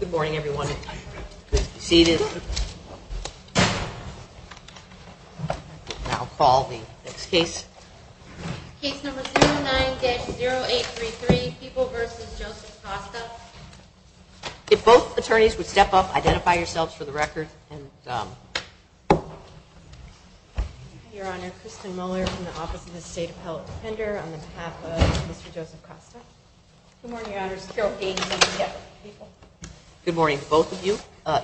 Good morning, everyone. Seated. I'll call the next case. Case number 0833 people versus if both attorneys would step up, identify yourselves for the record. Your Honor, Kristen Muller from the Office of the State Appellate Defender on behalf of Mr. Joseph Costa. Good morning, Your Honors. Good morning to both of you.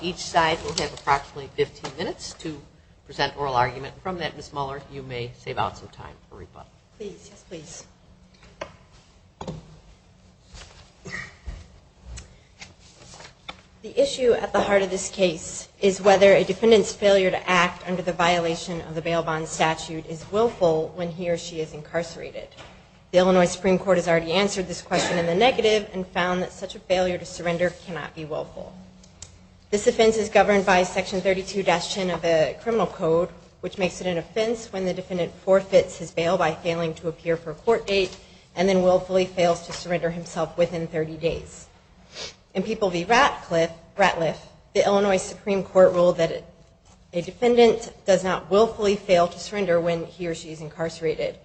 Each side will have approximately 15 minutes to present oral argument. From that, Ms. Muller, you may save out some time for rebuttal. Please. Yes, please. The issue at the heart of this case is whether a defendant's failure to act under the violation of the bail bond statute is willful when he or she is incarcerated. The Illinois Supreme Court has already answered this question in the negative and found that such a failure to surrender cannot be willful. This offense is governed by section 32-10 of the criminal code, which makes it an offense when the defendant forfeits his bail by failing to appear for a court date and then willfully fails to surrender himself within 30 days. In People v. Ratcliffe, the Illinois Supreme Court ruled that a defendant does not willfully fail to surrender when he or she is incarcerated.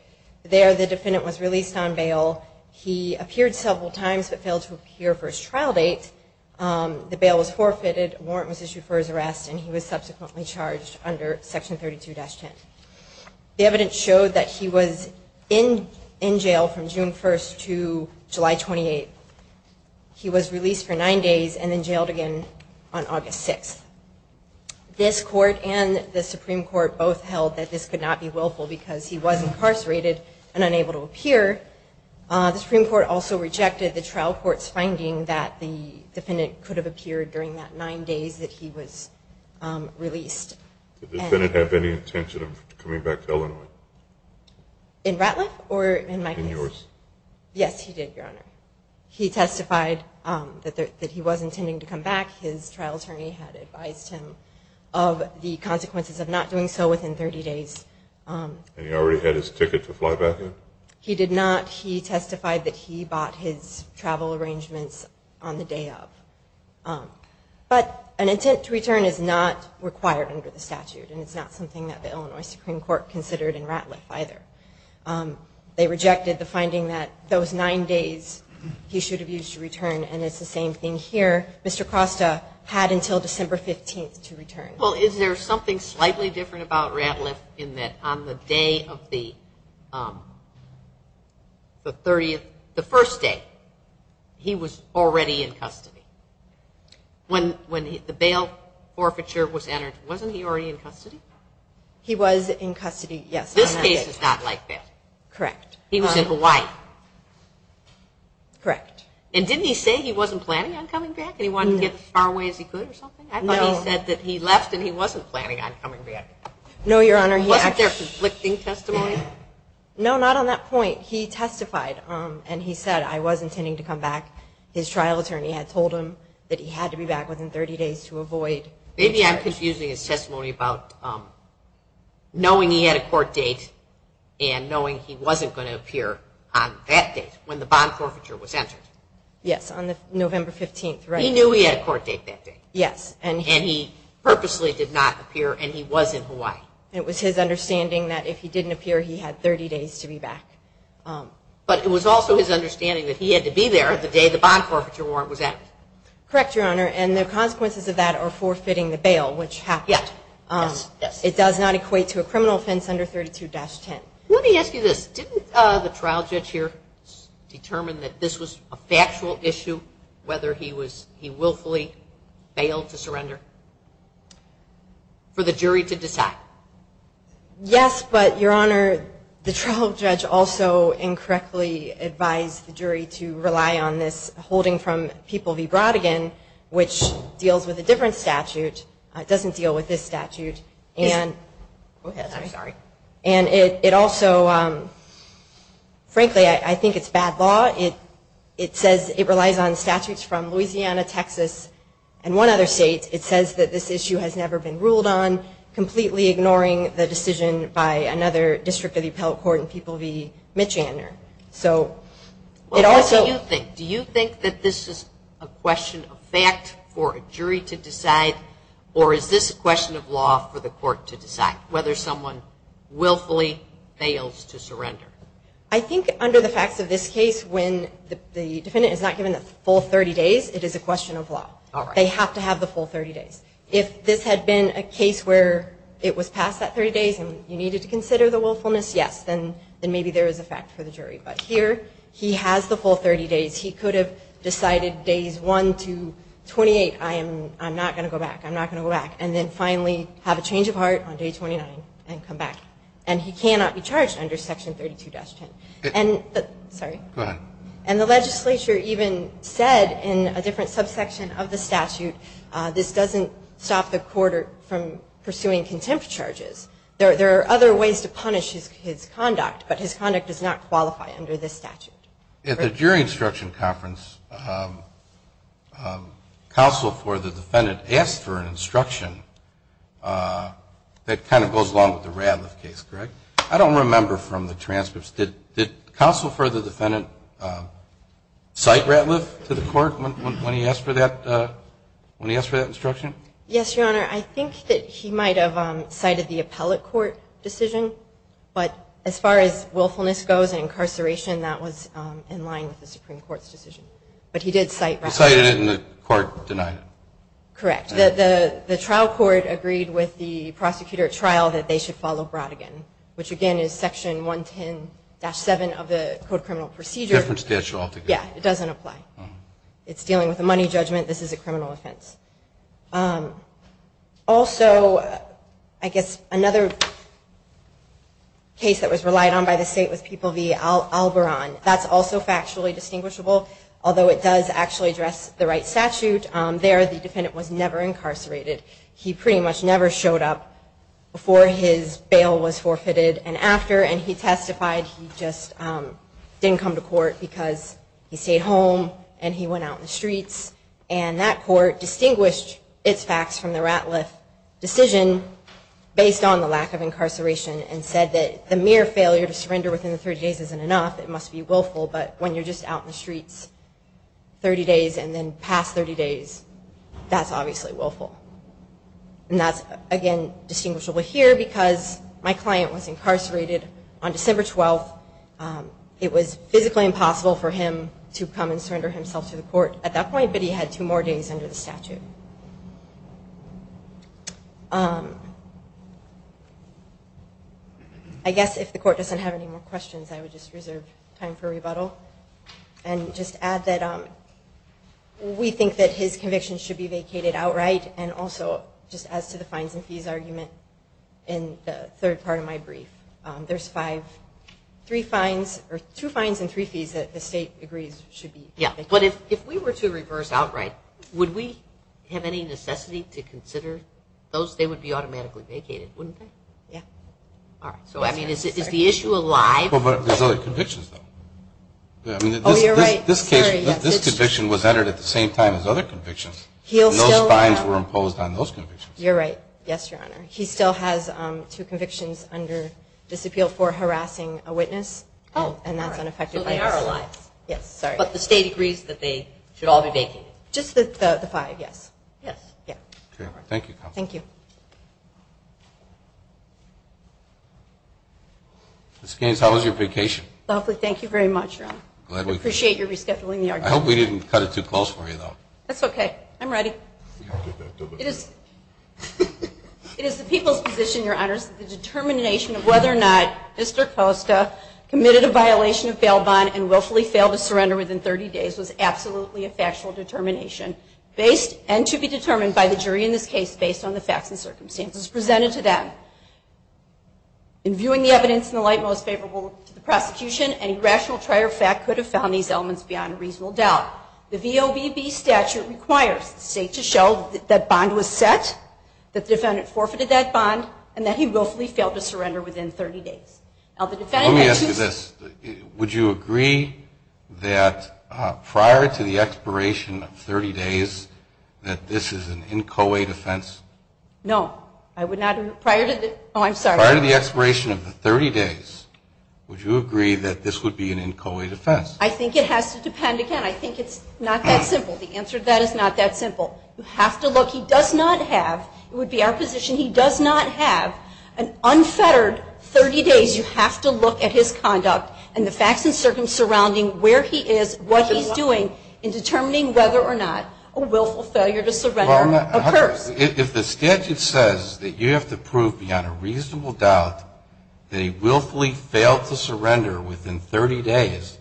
There, the defendant was released on bail. He appeared several times, but failed to appear for his trial date. The bail was forfeited, a warrant was issued for his arrest, and he was subsequently charged under section 32-10. The evidence showed that he was in jail from June 1st to July 28th. He was released for nine days and then jailed again on August 6th. This court and the Supreme Court both held that this could not be willful because he was incarcerated and unable to appear. The Supreme Court also rejected the trial court's finding that the defendant could have appeared during that nine days that he was released. Did the defendant have any intention of coming back to Illinois? In Ratcliffe or in my case? In yours? Yes, he did, Your Honor. He testified that he was intending to come back. His trial attorney had advised him of the consequences of not doing so within 30 days. And he already had his ticket to fly back in? He did not. He testified that he bought his travel arrangements on the day of. But an intent to return is not required under the statute. And it's not something that the Illinois Supreme Court considered in Ratcliffe either. They rejected the finding that those nine days he should have used to return. And it's the same thing here. Mr. Costa had until December 15th to return. Well, is there something slightly different about Ratcliffe in that on the day of the 30th, the first day he was already in custody when, when the bail forfeiture was entered, wasn't he already in custody? He was in custody. Yes. This case is not like that. Correct. He was in Hawaii. Correct. And didn't he say he wasn't planning on coming back and he wanted to get as far away as he could or something? I thought he said that he left and he wasn't planning on coming back. No, Your Honor. He wasn't there conflicting testimony. No, not on that point. He testified and he said, I was intending to come back. His trial attorney had told him that he had to be back within 30 days to avoid. Maybe I'm confusing his testimony about knowing he had a court date and knowing he wasn't going to appear on that date when the bond forfeiture was entered. Yes. On the November 15th. He knew he had a court date that day. Yes. And he purposely did not appear and he was in Hawaii. It was his understanding that if he didn't appear, he had 30 days to be back. But it was also his understanding that he had to be there the day the bond forfeiture warrant was at. Correct, Your Honor. And the consequences of that are forfeiting the bail, which happened. Yes. Yes. It does not equate to a criminal offense under 32-10. Let me ask you this. Didn't the trial judge here determine that this was a factual issue, whether he was, he willfully bailed to surrender for the jury to decide? Yes, but Your Honor, the trial judge also incorrectly advised the jury to rely on this holding from People v. Brodigan, which deals with a different statute. It doesn't deal with this statute. And I'm sorry. And it also, frankly, I think it's bad law. It says it relies on statutes from Louisiana, Texas and one other state. It says that this issue has never been ruled on, completely ignoring the decision by another district of the appellate court in People v. Mitchander. So it also. What do you think? Do you think that this is a question of fact for a jury to decide or is this a question of law for the court to decide whether someone willfully fails to surrender? I think under the facts of this case, when the defendant is not given the full 30 days, it is a question of law. They have to have the full 30 days. If this had been a case where it was passed that 30 days and you needed to consider the willfulness, yes, then, then maybe there is a fact for the jury. But here he has the full 30 days. He could have decided days one to 28. I am, I'm not going to go back. I'm not going to go back. And then finally have a change of heart on day 29 and come back. And he cannot be charged under section 32-10. And sorry, and the legislature even said in a different subsection of the statute, this doesn't stop the court from pursuing contempt charges. There are other ways to punish his conduct, but his conduct does not qualify under this statute. At the jury instruction conference, counsel for the defendant asked for an instruction that kind of goes along with the Radliff case, correct? I don't remember from the transcripts. Did the counsel for the defendant cite Radliff to the court when he asked for that, when he asked for that instruction? Yes, Your Honor. I think that he might have cited the appellate court decision, but as far as willfulness goes and incarceration, that was in line with the Supreme Court's decision, but he did cite Radliff. He cited it and the court denied it. Correct. The trial court agreed with the prosecutor at trial that they should follow Brodigan, which again is section 110-7 of the Code of Criminal Procedure. It doesn't apply. It's dealing with a money judgment. This is a criminal offense. Also, I guess another case that was relied on by the state was People v. Alboron. That's also factually distinguishable, although it does actually address the right statute. There the defendant was never incarcerated. He pretty much never showed up before his bail was forfeited and after, and he testified. He just didn't come to court because he stayed home and he went out in the streets. And that court distinguished its facts from the Radliff decision based on the lack of incarceration and said that the mere failure to surrender within the 30 days isn't enough. It must be willful. But when you're just out in the streets 30 days and then past 30 days, that's obviously willful. And that's again, distinguishable here because my client was incarcerated on December 12th. It was physically impossible for him to come and surrender himself to the court at that point, but he had two more days under the statute. I guess if the court doesn't have any more questions, I would just reserve time for rebuttal and just add that we think that his conviction should be vacated outright. And also just as to the fines and fees argument in the third part of my brief, there's five, three fines or two fines and three fees that the state agrees should be. Yeah. But if, if we were to reverse outright, would we have any necessity to consider those? They would be automatically vacated, wouldn't they? Yeah. All right. So I mean, is it, is the issue alive? Well, but there's other convictions though. This case, this conviction was entered at the same time as other convictions. He'll know fines were imposed on those convictions. You're right. Yes, Your Honor. He still has two convictions under disappeal for harassing a witness and that's unaffected by our lives. Yes. Sorry. But the state agrees that they should all be vacant. Just the five. Yes. Yes. Yeah. Thank you. Thank you. Ms. Gaines, how was your vacation? Lovely. Thank you very much. I appreciate your rescheduling. I hope we didn't cut it too close for you though. That's okay. I'm ready. It is, it is the people's position, Your Honors, the determination of whether or not Mr. Costa committed a violation of bail bond and willfully failed to surrender within 30 days was absolutely a factual determination based and to be determined by the jury in this case, based on the facts and circumstances presented to them. In viewing the evidence in the light, most favorable to the prosecution, any rational trier fact could have found these elements beyond reasonable doubt. The VOBB statute requires the state to show that bond was set, that the defendant forfeited that bond and that he willfully failed to surrender within 30 days. Now the defendant had to- Let me ask you this. Would you agree that prior to the expiration of 30 days that this is an inchoate offense? No, I would not. Prior to the, oh, I'm sorry. Prior to the expiration of the 30 days, would you agree that this would be an inchoate offense? I think it has to depend again. I think it's not that simple. The answer to that is not that simple. You have to look, he does not have, it would be our position, he does not have an unfettered 30 days. You have to look at his conduct and the facts and circumstances surrounding where he is, what he's doing in determining whether or not a willful failure to surrender occurs. If the statute says that you have to prove beyond a reasonable doubt that he willfully failed to surrender within 30 days,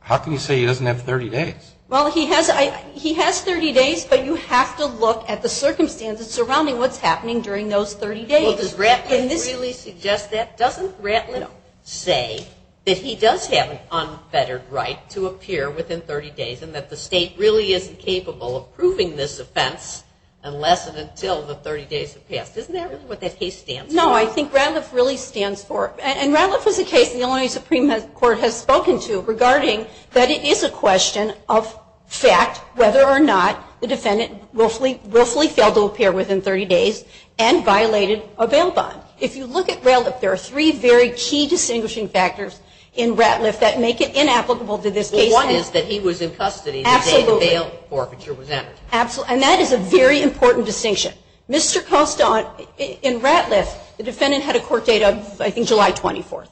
how can you say he doesn't have 30 days? Well, he has, he has 30 days, but you have to look at the circumstances surrounding what's happening during those 30 days. Well, does Ratlin really suggest that? Doesn't Ratlin say that he does have an unfettered right to appear within 30 days and that the state really isn't capable of proving this offense unless it until the 30 days have passed? Isn't that really what that case stands for? No, I think Ratliff really stands for it. And Ratliff is a case the Illinois Supreme Court has spoken to regarding that it is a question of fact, whether or not the defendant willfully, willfully failed to appear within 30 days and violated a bail bond. If you look at Ratliff, there are three very key distinguishing factors in Ratliff that make it inapplicable to this case. One is that he was in custody the day the bail forfeiture was entered. And that is a very important distinction. Mr. Costant, in Ratliff, the defendant had a court date of, I think, July 24th.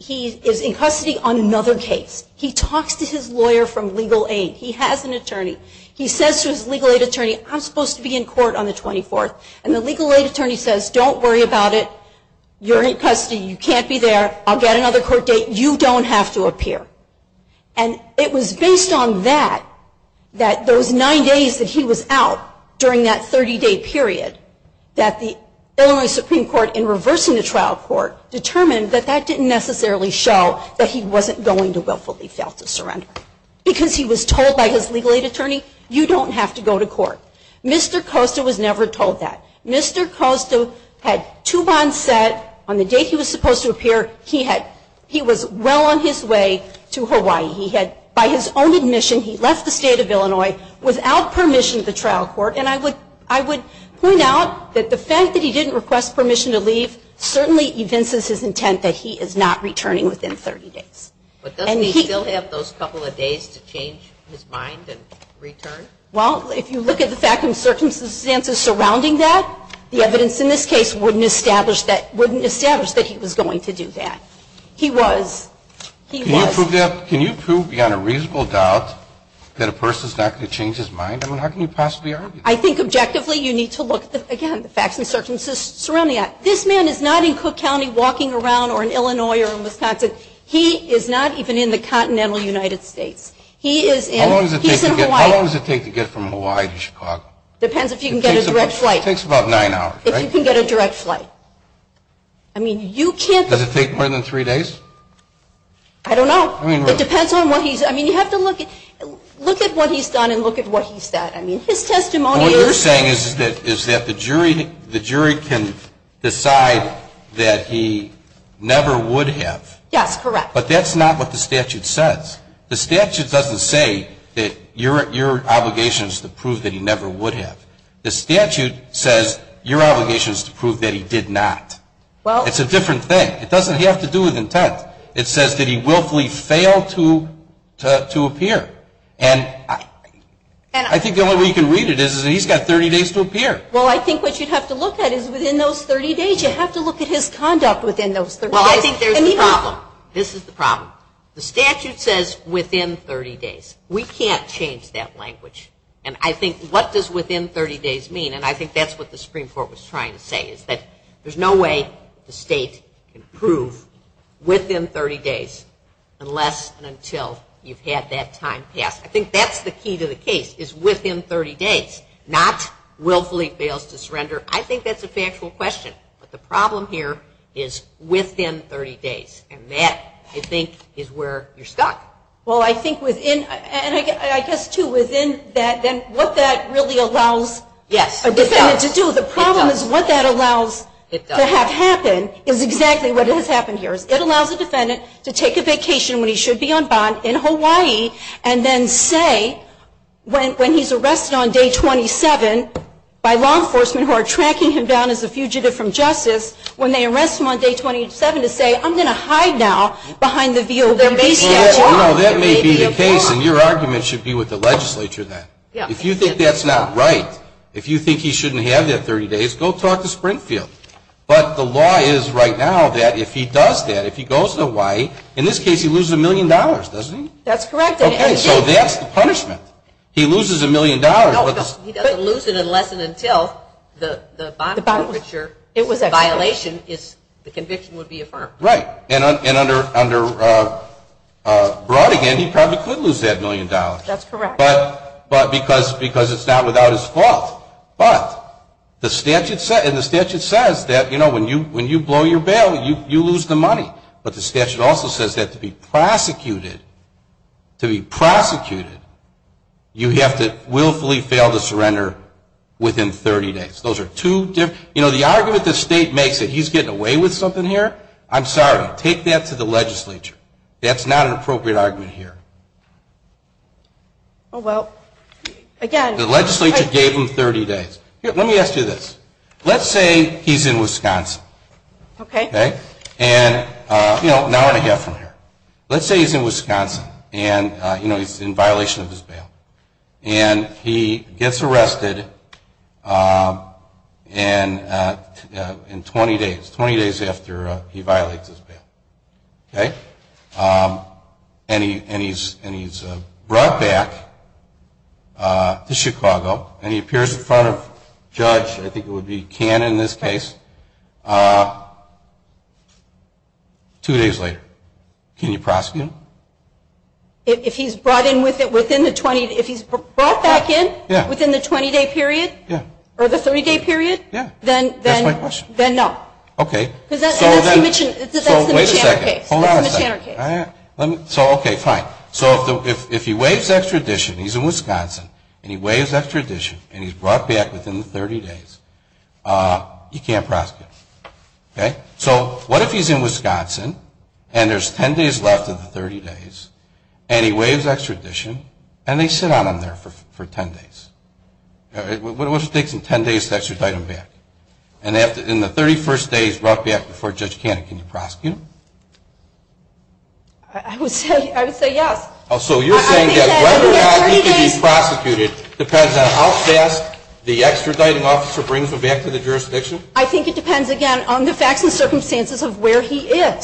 He is in custody on another case. He talks to his lawyer from legal aid. He has an attorney. He says to his legal aid attorney, I'm supposed to be in court on the 24th. And the legal aid attorney says, don't worry about it. You're in custody. You can't be there. I'll get another court date. You don't have to appear. And it was based on that, that those nine days that he was out during that 30 day period that the Illinois Supreme Court in reversing the trial court determined that that didn't necessarily show that he wasn't going to willfully fail to surrender because he was told by his legal aid attorney, you don't have to go to court. Mr. Costa was never told that. Mr. Costa had two bonds set. On the date he was supposed to appear, he had, he was well on his way to Hawaii. He had, by his own admission, he left the state of Illinois without permission to the trial court. And I would, I would point out that the fact that he didn't request permission to leave certainly evinces his intent that he is not returning within 30 days. But does he still have those couple of days to change his mind and return? Well, if you look at the fact and circumstances surrounding that, the evidence in this case wouldn't establish that, wouldn't establish that he was going to do that. He was, he was. Can you prove beyond a reasonable doubt that a person's not going to change his mind? I mean, how can you possibly argue that? I think objectively you need to look at the, again, the facts and circumstances surrounding that. This man is not in Cook County walking around or in Illinois or in Wisconsin. He is not even in the continental United States. He is in, he's in Hawaii. How long does it take to get from Hawaii to Chicago? Depends if you can get a direct flight. It takes about nine hours, right? If you can get a direct flight. I mean, you can't. Does it take more than three days? I don't know. I mean, it depends on what he's, I mean, you have to look at, look at what he's done and look at what he said. I mean, his testimony. What you're saying is that, is that the jury, the jury can decide that he never would have. Yes, correct. But that's not what the statute says. The statute doesn't say that your, your obligation is to prove that he never would have. The statute says your obligation is to prove that he did not. Well, it's a different thing. It doesn't have to do with intent. It says that he willfully failed to, to, to appear. And I think the only way you can read it is, is that he's got 30 days to appear. Well, I think what you'd have to look at is within those 30 days, you have to look at his conduct within those 30 days. Well, I think there's a problem. This is the problem. The statute says within 30 days, we can't change that language. And I think what does within 30 days mean? And I think that's what the Supreme Court was trying to say is that there's no way the state can prove within 30 days, unless and until you've had that time passed. I think that's the key to the case is within 30 days, not willfully fails to surrender. I think that's a factual question, but the problem here is within 30 days. And that I think is where you're stuck. Well, I think within, and I guess too, within that, then what that really allows a defendant to do, the problem is what that allows to have happen is exactly what has happened here is it allows a defendant to take a vacation when he should be on bond in Hawaii, and then say, when, when he's arrested on day 27 by law enforcement who are tracking him down as a fugitive from justice, when they arrest him on day 27 to say, I'm going to hide now behind the veal. That may be the case in your argument should be with the legislature. Then if you think that's not right, if you think he shouldn't have that 30 days, go talk to Springfield. But the law is right now that if he does that, if he goes to Hawaii, in this case, he loses a million dollars, doesn't he? That's correct. Okay. So that's the punishment. He loses a million dollars. He doesn't lose it unless and until the bond breacher violation is the conviction would be affirmed. Right. And, and under, under, uh, uh, Brodigan, he probably could lose that million dollars, but, but because, because it's not without his fault, but the statute said, and the statute says that, you know, when you, when you blow your bail, you, you lose the money. But the statute also says that to be prosecuted, to be prosecuted, you have to willfully fail to surrender within 30 days. Those are two different, you know, the argument the state makes that he's getting away with something here. I'm sorry. Take that to the legislature. That's not an appropriate argument here. Oh, well, again, the legislature gave him 30 days. Let me ask you this. Let's say he's in Wisconsin. Okay. Okay. And, uh, you know, now I'm going to get from here. Let's say he's in Wisconsin and, uh, you know, he's in violation of his bail and he gets arrested. Um, and, uh, uh, in 20 days, 20 days after he violates his bail. Okay. Um, and he, and he's, and he's, uh, brought back, uh, to Chicago and he appears in front of judge, I think it would be can in this case, uh, two days later, can you prosecute him? If he's brought in with it within the 20, if he's brought back in within the 20 day period or the 30 day period, then, then, then no. Okay. Cause that's, so then, so wait a second, hold on a second. So, okay, fine. So if the, if, if he waives extradition, he's in Wisconsin and he waives extradition and he's brought back within the 30 days, uh, you can't prosecute. Okay. So what if he's in Wisconsin and there's 10 days left of the 30 days and he waives extradition and they sit on him there for, for 10 days. What it would take in 10 days to extradite him back and they have to, in the 31st days brought back before judge Cannon, can you prosecute him? I would say, I would say yes. Oh, so you're saying that whether or not he can be prosecuted depends on how fast the extraditing officer brings him back to the jurisdiction. I think it depends again on the facts and circumstances of where he is.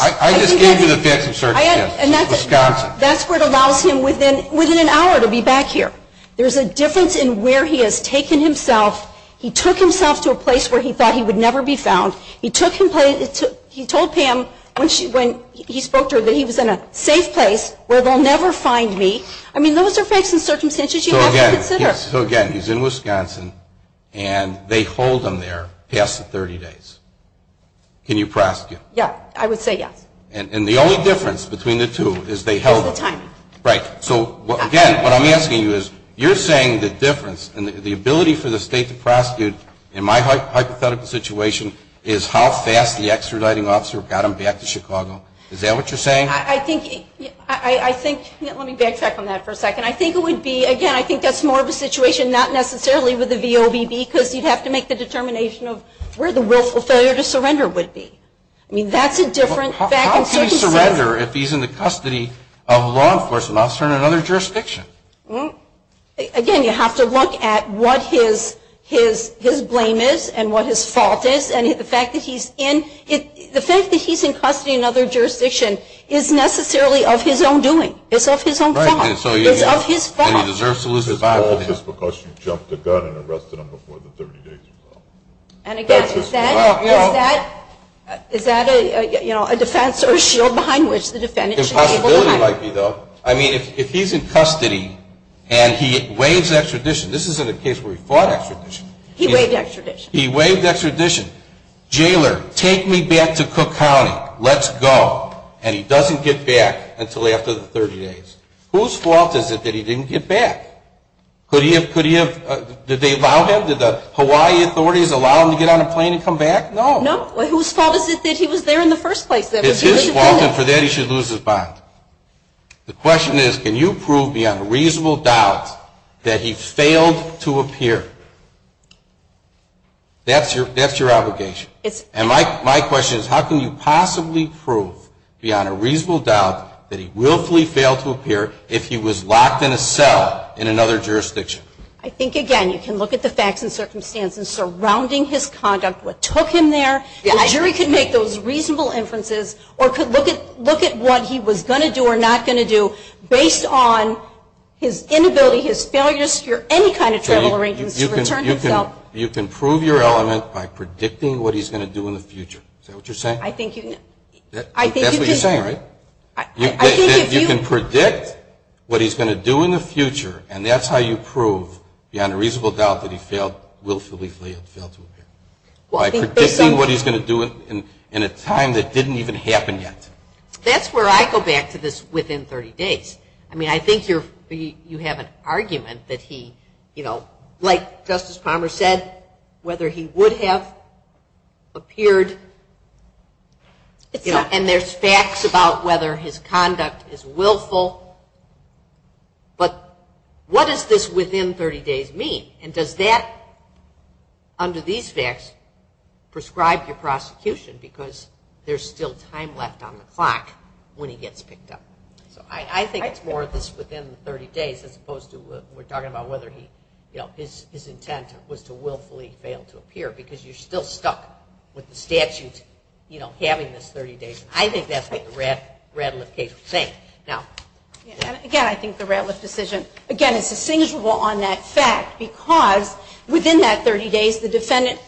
That's where it allows him within, within an hour to be back here. There's a difference in where he has taken himself. He took himself to a place where he thought he would never be found. He took him to, he told Pam when she, when he spoke to her that he was in a safe place where they'll never find me. I mean, those are facts and circumstances you have to consider. So again, he's in Wisconsin and they hold him there past the 30 days. Can you prosecute? Yeah, I would say yes. And the only difference between the two is they held him. Right. So again, what I'm asking you is you're saying the difference and the ability for the state to prosecute in my hypothetical situation is how fast the extraditing officer got him back to Chicago. Is that what you're saying? I think, I think, let me backtrack on that for a second. I think it would be, again, I think that's more of a situation not necessarily with the VOBB because you'd have to make the determination of where the willful failure to surrender would be. I mean, that's a different fact. How can he surrender if he's in the custody of law enforcement officer in another jurisdiction? Again, you have to look at what his, his, his blame is and what his fault is. And the fact that he's in it, the fact that he's in custody in another jurisdiction is necessarily of his own doing. It's of his own fault. It's of his fault. And he deserves to lose his life just because you jumped the gun and arrested him before the 30 days. And again, is that, is that, is that a, you know, a defense or a shield behind which the defendant should be able to hide? Possibility might be though. I mean, if he's in custody and he waives extradition, this isn't a case where he fought extradition. He waived extradition. He waived extradition. Jailer, take me back to Cook County. Let's go. And he doesn't get back until after the 30 days. Whose fault is it that he didn't get back? Could he have, could he have, did they allow him? Did the Hawaii authorities allow him to get on a plane and come back? No. No. Well, whose fault is it that he was there in the first place? It's his fault and for that he should lose his bond. The question is, can you prove beyond a reasonable doubt that he failed to appear? That's your, that's your obligation. It's, and my, my question is how can you possibly prove beyond a reasonable doubt that he willfully failed to appear if he was locked in a cell in another jurisdiction? I think, again, you can look at the facts and circumstances surrounding his conduct, what took him there. The jury can make those reasonable inferences or could look at, look at what he was going to do or not going to do based on his inability, his failures, your, any kind of travel arrangements. You can prove your element by predicting what he's going to do in the future. Is that what you're saying? I think you know, I think that's what you're saying, right? You can predict what he's going to do in the future and that's how you prove beyond a reasonable doubt that he failed, willfully failed to appear. Well, I think based on what he's going to do in a time that didn't even happen yet. That's where I go back to this within 30 days. I mean, I think you're, you have an argument that he, you know, like Justice Palmer said, whether he would have appeared, you know, and there's facts about whether his conduct is willful, but what does this within 30 days mean? And does that, under these facts, prescribe your prosecution because there's still time left on the clock when he gets picked up. So I think it's more of this within 30 days as opposed to we're talking about whether he, you know, his intent was to willfully fail to appear because you're still stuck with the statute, you know, having this 30 days. I think that's what the Radcliffe case is saying. Now, again, I think the Radcliffe decision, again, is distinguishable on that fact because within that 30 days, the defendant,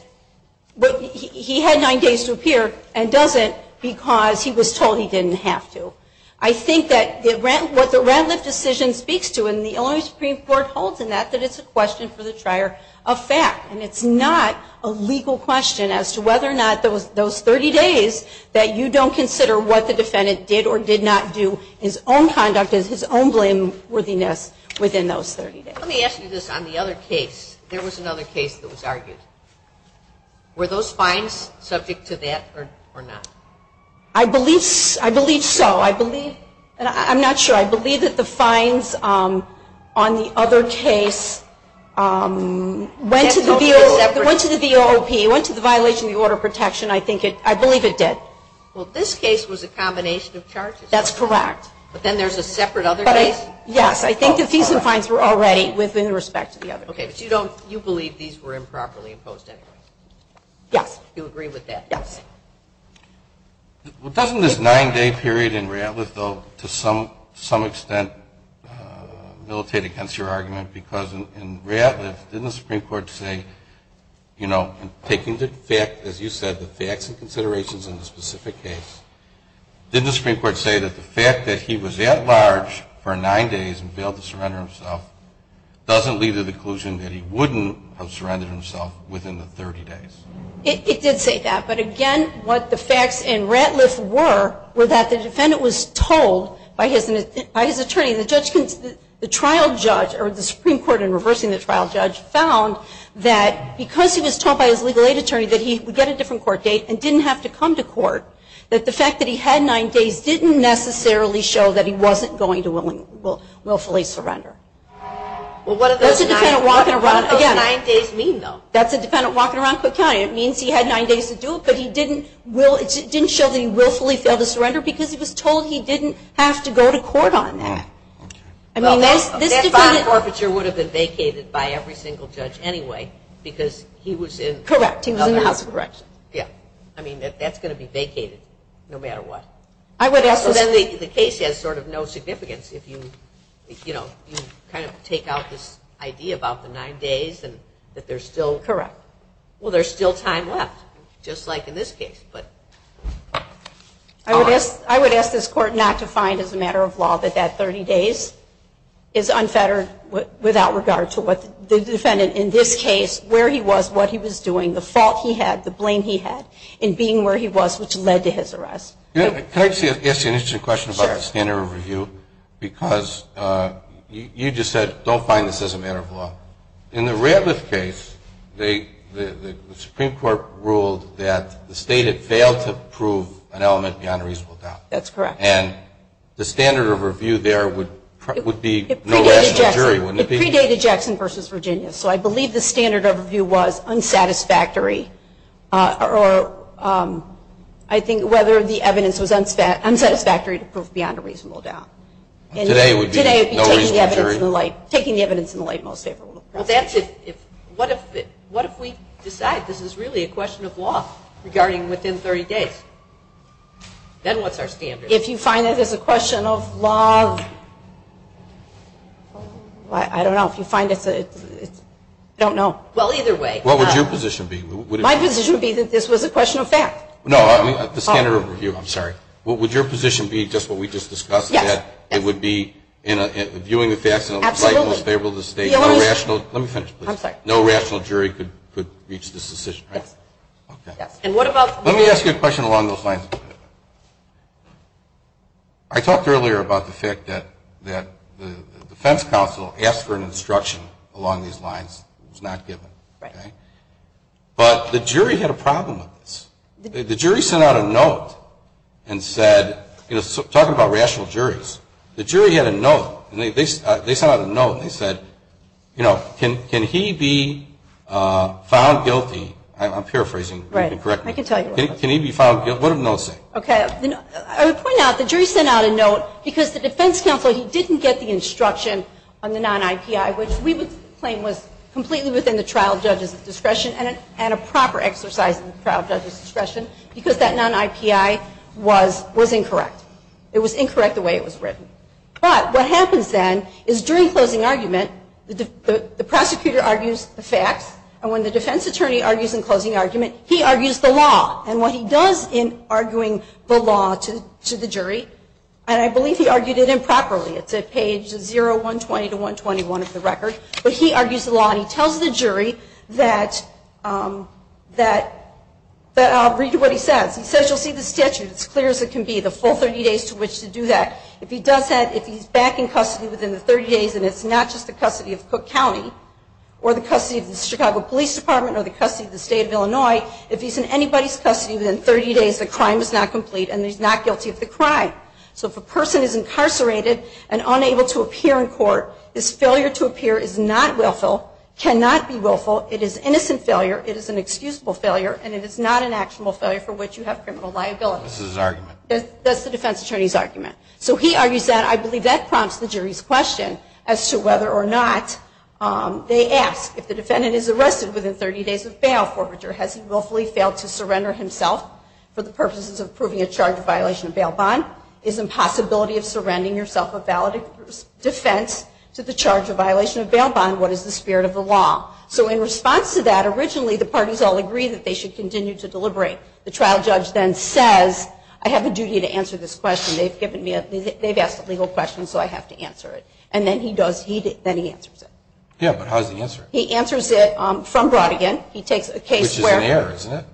he had nine days to appear and doesn't because he was told he didn't have to. I think that what the Radcliffe decision speaks to, and the Illinois Supreme Court holds in that, that it's a question for the trier of fact, and it's not a legal question as to whether or not those 30 days that you don't consider what the defendant did or did not do, his own conduct, his own blameworthiness within those 30 days. Let me ask you this. On the other case, there was another case that was argued. Were those fines subject to that or not? I believe so. I believe, and I'm not sure. I believe that the fines on the other case went to the VOOP, went to the violation of the order of protection. I think it, I believe it did. Well, this case was a combination of charges. That's correct. But then there's a separate other case. Yes. I think the fees and fines were already within respect to the other. Okay. But you don't, you believe these were improperly imposed anyway. Yes. Do you agree with that? Yes. Well, doesn't this nine day period in Radcliffe though, to some, to some extent militate against your argument because in Radcliffe, didn't the Supreme Court say, you know, taking the fact, as you said, the facts and considerations in the specific case, didn't the Supreme Court say that the fact that he was at large for nine days and failed to surrender himself doesn't lead to the conclusion that he wouldn't have surrendered himself within the 30 days? It did say that, but again, what the facts in Radcliffe were were that the defendant was told by his, by his attorney, the judge, the trial judge or the Supreme Court in reversing the trial judge found that because he was told by his legal aid attorney, that he would get a different court date and didn't have to come to court, that the fact that he had nine days didn't necessarily show that he wasn't going to willingly, will, willfully surrender. Well, what are those nine days mean though? That's a dependent walking around Cook County. It means he had nine days to do it, but he didn't will, it didn't show that he willfully failed to surrender because he was told he didn't have to go to court on that. I mean, this, this bond forfeiture would have been vacated by every single judge anyway, because he was in. Correct. He was in the House of Corrections. Yeah. I mean that that's going to be vacated no matter what. I would ask. So then the case has sort of no significance. If you, you know, you kind of take out this idea about the nine days and that there's still. Correct. Well, there's still time left, just like in this case, but. I would ask, I would ask this court not to find as a matter of law that that 30 days is unfettered without regard to what the defendant in this case, where he was, what he was doing, the fault he had, the blame he had in being where he was, which led to his arrest. Can I just ask you an interesting question about the standard of review? Because you just said, don't find this as a matter of law. In the Radliff case, the Supreme court ruled that the state had failed to prove an element beyond a reasonable doubt. That's correct. And the standard of review there would, would be no rational jury, wouldn't it be? It predated Jackson versus Virginia. So I believe the standard of review was unsatisfactory or I think whether the evidence was unsatisfactory to prove beyond a reasonable doubt. Today it would be no reasonable jury. Today it would be taking the evidence in the light, taking the evidence in the light, most favorable. Well, that's if, if, what if, what if we decide this is really a question of law regarding within 30 days, then what's our standard? If you find that there's a question of law, I don't know if you find it's a, I don't know. Well, either way, what would your position be? My position would be that this was a question of fact. No, I mean the standard of review. I'm sorry. What would your position be just what we just discussed? It would be in a viewing the facts in the light most favorable to the state. Let me finish. I'm sorry. No rational jury could, could reach this decision, right? Yes. And what about, let me ask you a question along those lines. I talked earlier about the fact that that the defense counsel asked for an instruction along these lines. It was not given. But the jury had a problem with this. The jury sent out a note and said, you know, talking about rational juries, the jury had a note and they, they sent out a note and they said, you know, can, can he be found guilty? I'm paraphrasing. You can correct me. Can he be found guilty? What did the note say? Okay. I would point out the jury sent out a note because the defense counsel, he didn't get the instruction on the non-IPI, which we would claim was completely within the trial judge's discretion and a proper exercise in the trial judge's discretion because that non-IPI was, was incorrect. It was incorrect the way it was written. But what happens then is during closing argument, the prosecutor argues the facts and when the defense attorney argues in closing the law to, to the jury, and I believe he argued it improperly. It's at page 0, 120 to 121 of the record, but he argues the law. And he tells the jury that, um, that, that I'll read you what he says. He says, you'll see the statute. It's clear as it can be the full 30 days to which to do that. If he does that, if he's back in custody within the 30 days and it's not just the custody of Cook County or the custody of the Chicago police department or the custody of the state of Illinois, if he's in anybody's custody within 30 days, the crime is not complete and he's not guilty of the crime. So if a person is incarcerated and unable to appear in court, this failure to appear is not willful, cannot be willful. It is innocent failure. It is an excusable failure and it is not an actionable failure for which you have criminal liability. That's the defense attorney's argument. So he argues that I believe that prompts the jury's question as to whether or not, um, they ask if the defendant is arrested within 30 days of bail forfeiture, has he willfully failed to surrender himself for the purposes of proving a charge of violation of bail bond? Is the possibility of surrendering yourself a valid defense to the charge of violation of bail bond? What is the spirit of the law? So in response to that, originally the parties all agree that they should continue to deliberate. The trial judge then says, I have a duty to answer this question. They've given me a, they've asked a legal question, so I have to answer it. And then he does, he, then he answers it. Yeah. But how's the answer? He answers it, um, from Brodigan. He takes a case where,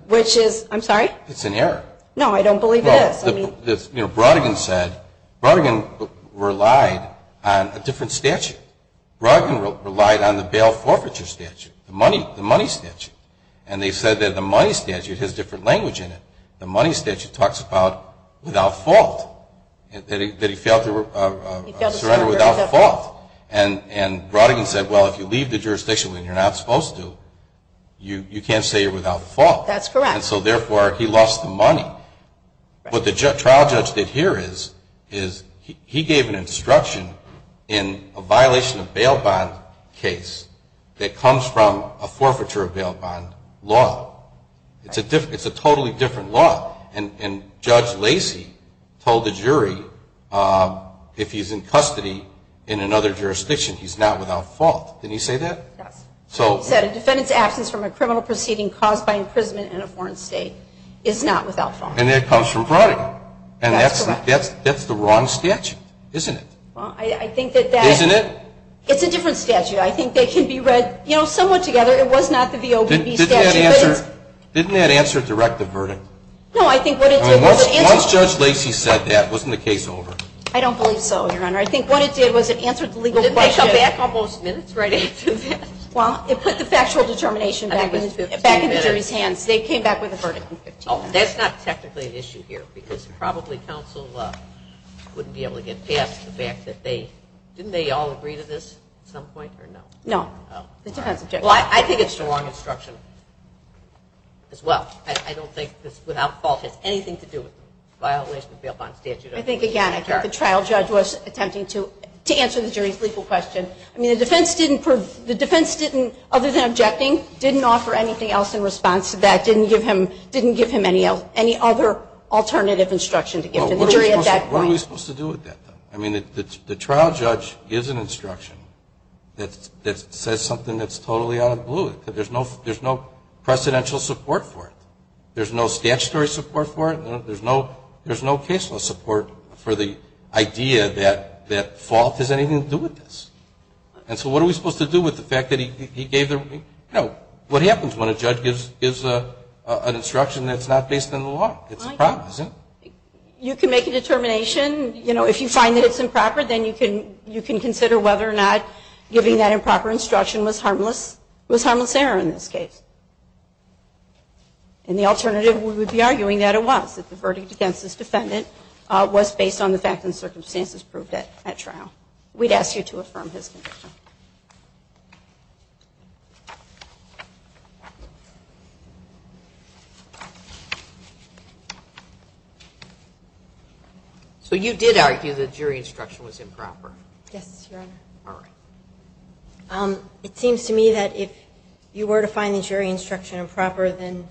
which is, I'm sorry, it's an error. No, I don't believe it is. Brodigan said Brodigan relied on a different statute. Brodigan relied on the bail forfeiture statute, the money, the money statute. And they said that the money statute has different language in it. The money statute talks about without fault, that he, that he failed to, uh, surrender without fault. And, and Brodigan said, well, if you leave the jurisdiction when you're not supposed to, you can't say you're without fault. That's correct. And so therefore he lost the money. What the trial judge did here is, is he gave an instruction in a violation of bail bond case that comes from a forfeiture of bail bond law. It's a different, it's a totally different law. And Judge Lacey told the jury, um, if he's in custody in another jurisdiction, he's not without fault. Did he say that? He said a defendant's absence from a criminal proceeding caused by imprisonment in a foreign state is not without fault. And it comes from Brodigan. And that's, that's, that's the wrong statute, isn't it? Well, I think that that, it's a different statute. I think they can be read, you know, somewhat together. It was not the VOBB statute. Didn't that answer direct the verdict? No, I think what it did was it answered. Once Judge Lacey said that, wasn't the case over? I don't believe so, Your Honor. I think what it did was it answered the legal question. Well, it put the factual determination back in the jury's hands. They came back with a verdict in 15 minutes. Oh, that's not technically an issue here because probably counsel, uh, wouldn't be able to get past the fact that they, didn't they all agree to this at some point or no? No. Well, I think it's the wrong instruction as well. I don't think this without fault has anything to do with violation of bail bond statute. I think again, I think the trial judge was attempting to, to answer the jury's legal question. I mean, the defense didn't prove, the defense didn't, other than objecting, didn't offer anything else in response to that. Didn't give him, didn't give him any other alternative instruction to give to the jury at that point. What are we supposed to do with that though? I mean, the trial judge gives an instruction that says something that's totally out of blue. There's no, there's no precedential support for it. There's no statutory support for it. There's no, there's no case law support for the idea that that fault has anything to do with this. And so what are we supposed to do with the fact that he gave the, you know, what happens when a judge gives, gives an instruction that's not based on the law? It's a problem, isn't it? You can make a determination, you know, if you find that it's improper, then you can, you can consider whether or not giving that improper instruction was harmless, was harmless error in this case. And the alternative we would be arguing that it was, that the verdict against this defendant was based on the fact and circumstances proved at trial. We'd ask you to affirm his condition. So you did argue that jury instruction was improper. Yes, Your Honor. It seems to me that if you were to find the jury instruction improper, then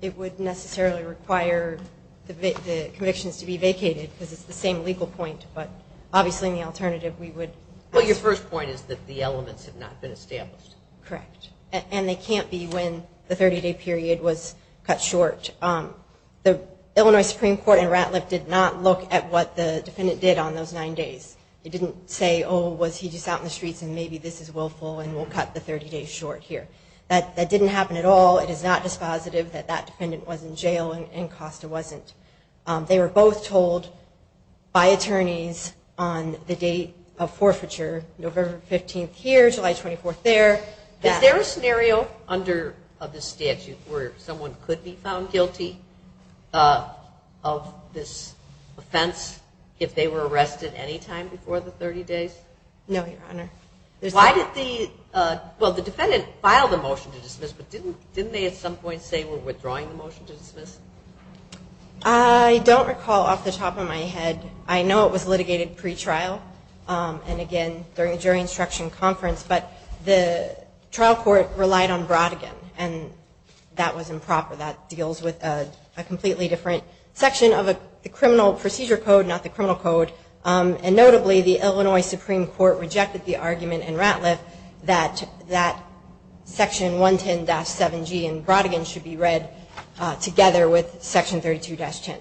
it would necessarily require the convictions to be vacated because it's the same legal point. But obviously in the alternative we would... Well, your first point is that the elements have not been established. Correct. And they can't be when the 30 day period was cut short. The Illinois Supreme Court in Ratliff did not look at what the defendant did on those nine days. It didn't say, Oh, was he just out in the streets and maybe this is willful and we'll cut the 30 days short here. That didn't happen at all. It is not dispositive that that defendant was in jail and Costa wasn't. They were both told by attorneys on the date of forfeiture, November 15th here, July 24th there. Is there a scenario under the statute where someone could be found guilty of this offense if they were arrested anytime before the 30 days? No, Your Honor. Why did the, well, the defendant filed a motion to dismiss, but didn't they at some point say we're withdrawing the motion to dismiss? I don't recall off the top of my head. I know it was litigated pre-trial. And again, during the jury instruction conference, but the trial court relied on Brodigan and that was improper. That deals with a completely different section of the criminal procedure code, not the criminal code. And notably the Illinois Supreme Court rejected the argument in Ratliff that that section 110-7G in Brodigan should be read together with section 32-10.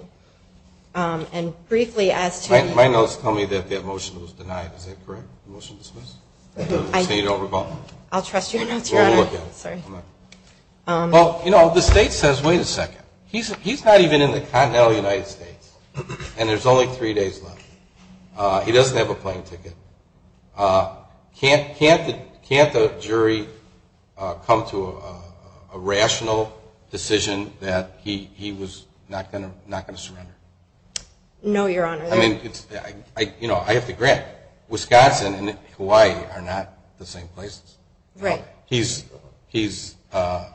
And briefly as to... My notes tell me that that motion was denied. Is that correct? The motion dismissed? I'll trust your notes, Your Honor. Well, you know, the state says, wait a second. He's not even in the continental United States and there's only three days left. He doesn't have a plane ticket. Can't the jury come to a rational decision that he was not going to surrender? No, Your Honor. I mean, I have to grant Wisconsin and Hawaii are not the same places. Right. He's, I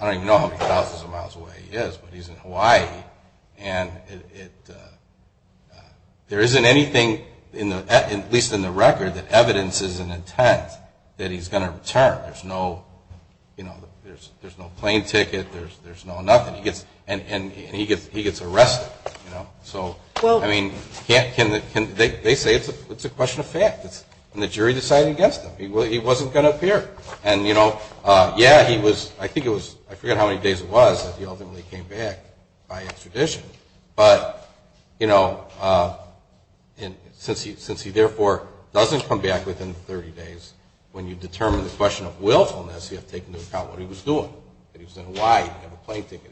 don't even know how many thousands of miles away he is, but he's in Hawaii and there isn't anything, at least in the record, that evidences an intent that he's going to return. There's no, you know, there's no plane ticket. There's no nothing. And he gets arrested, you know. So I mean, they say it's a question of fact and the jury decided against him. He wasn't going to appear. And you know, yeah, he was, I think it was, I forget how many days it was that he ultimately came back by extradition. But you know, since he, since he therefore doesn't come back within 30 days, when you determine the question of willfulness, you have to take into account what he was doing, that he was in Hawaii. He didn't have a plane ticket.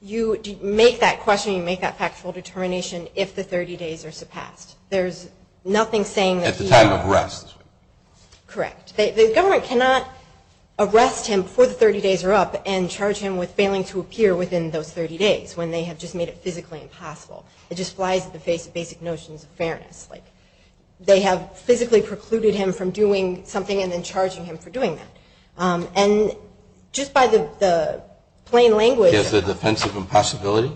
You make that question, you make that factual determination. If the 30 days are surpassed, there's nothing saying that he's not. At the time of arrest. Correct. The government cannot arrest him for the 30 days are up and charge him with failing to appear within those 30 days when they have just made it physically impossible. It just flies at the face of basic notions of fairness. Like they have physically precluded him from doing something and then charging him for doing that. And just by the, the plain language, the defensive impossibility,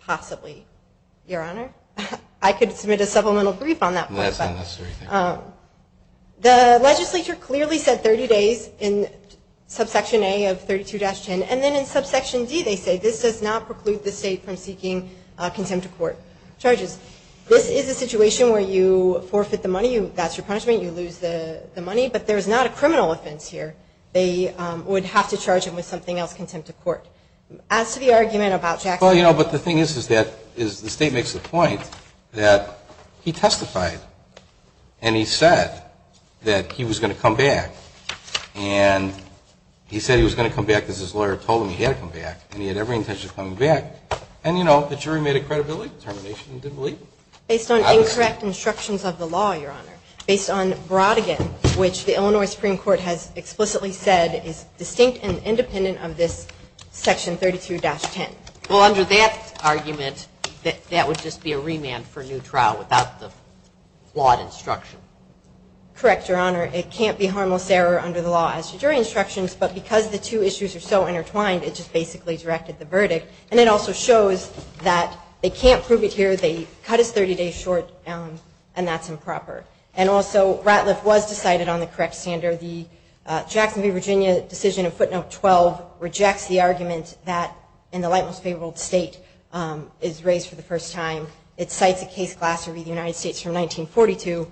possibly your honor, I could submit a supplemental brief on that. The legislature clearly said 30 days in subsection a of 32 dash 10. And then in subsection D they say, this does not preclude the state from seeking a contempt of court charges. This is a situation where you forfeit the money, you, that's your punishment. You lose the money, but there's not a criminal offense here. They would have to charge him with something else, contempt of court. As to the argument about Jack. Well, you know, but the thing is is that is the state makes the point that he testified and he said that he was going to come back and he said he was going to come back because his lawyer told him he had to come back and he had every intention of coming back. And you know, the jury made a credibility determination. He didn't believe it. Based on incorrect instructions of the law, your honor, based on Brodigan, which the Illinois Supreme Court has explicitly said is distinct and independent of this section 32 dash 10. Well, under that argument that that would just be a remand for new trial without the flawed instruction. Correct. Your honor, it can't be harmless error under the law as to jury instructions, but because the two issues are so intertwined, it just basically directed the verdict. And it also shows that they can't prove it here. They cut us 30 days short and that's improper. And also Ratliff was decided on the correct standard. The Jacksonville, Virginia decision of footnote 12 rejects the argument that in the light most favorable state is raised for the first time. It cites a case class of the United States from 1942.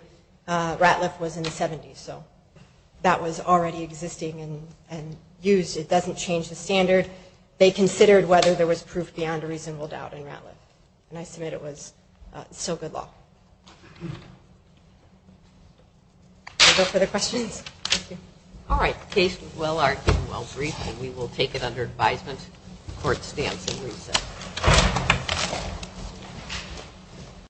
Ratliff was in the seventies. So that was already existing and used. It doesn't change the standard. They considered whether there was proof beyond a reasonable doubt in Ratliff. And I submit it was so good law. No further questions. All right. Case well argued, well briefed, and we will take it under advisement. Court stands in recess. Thank you.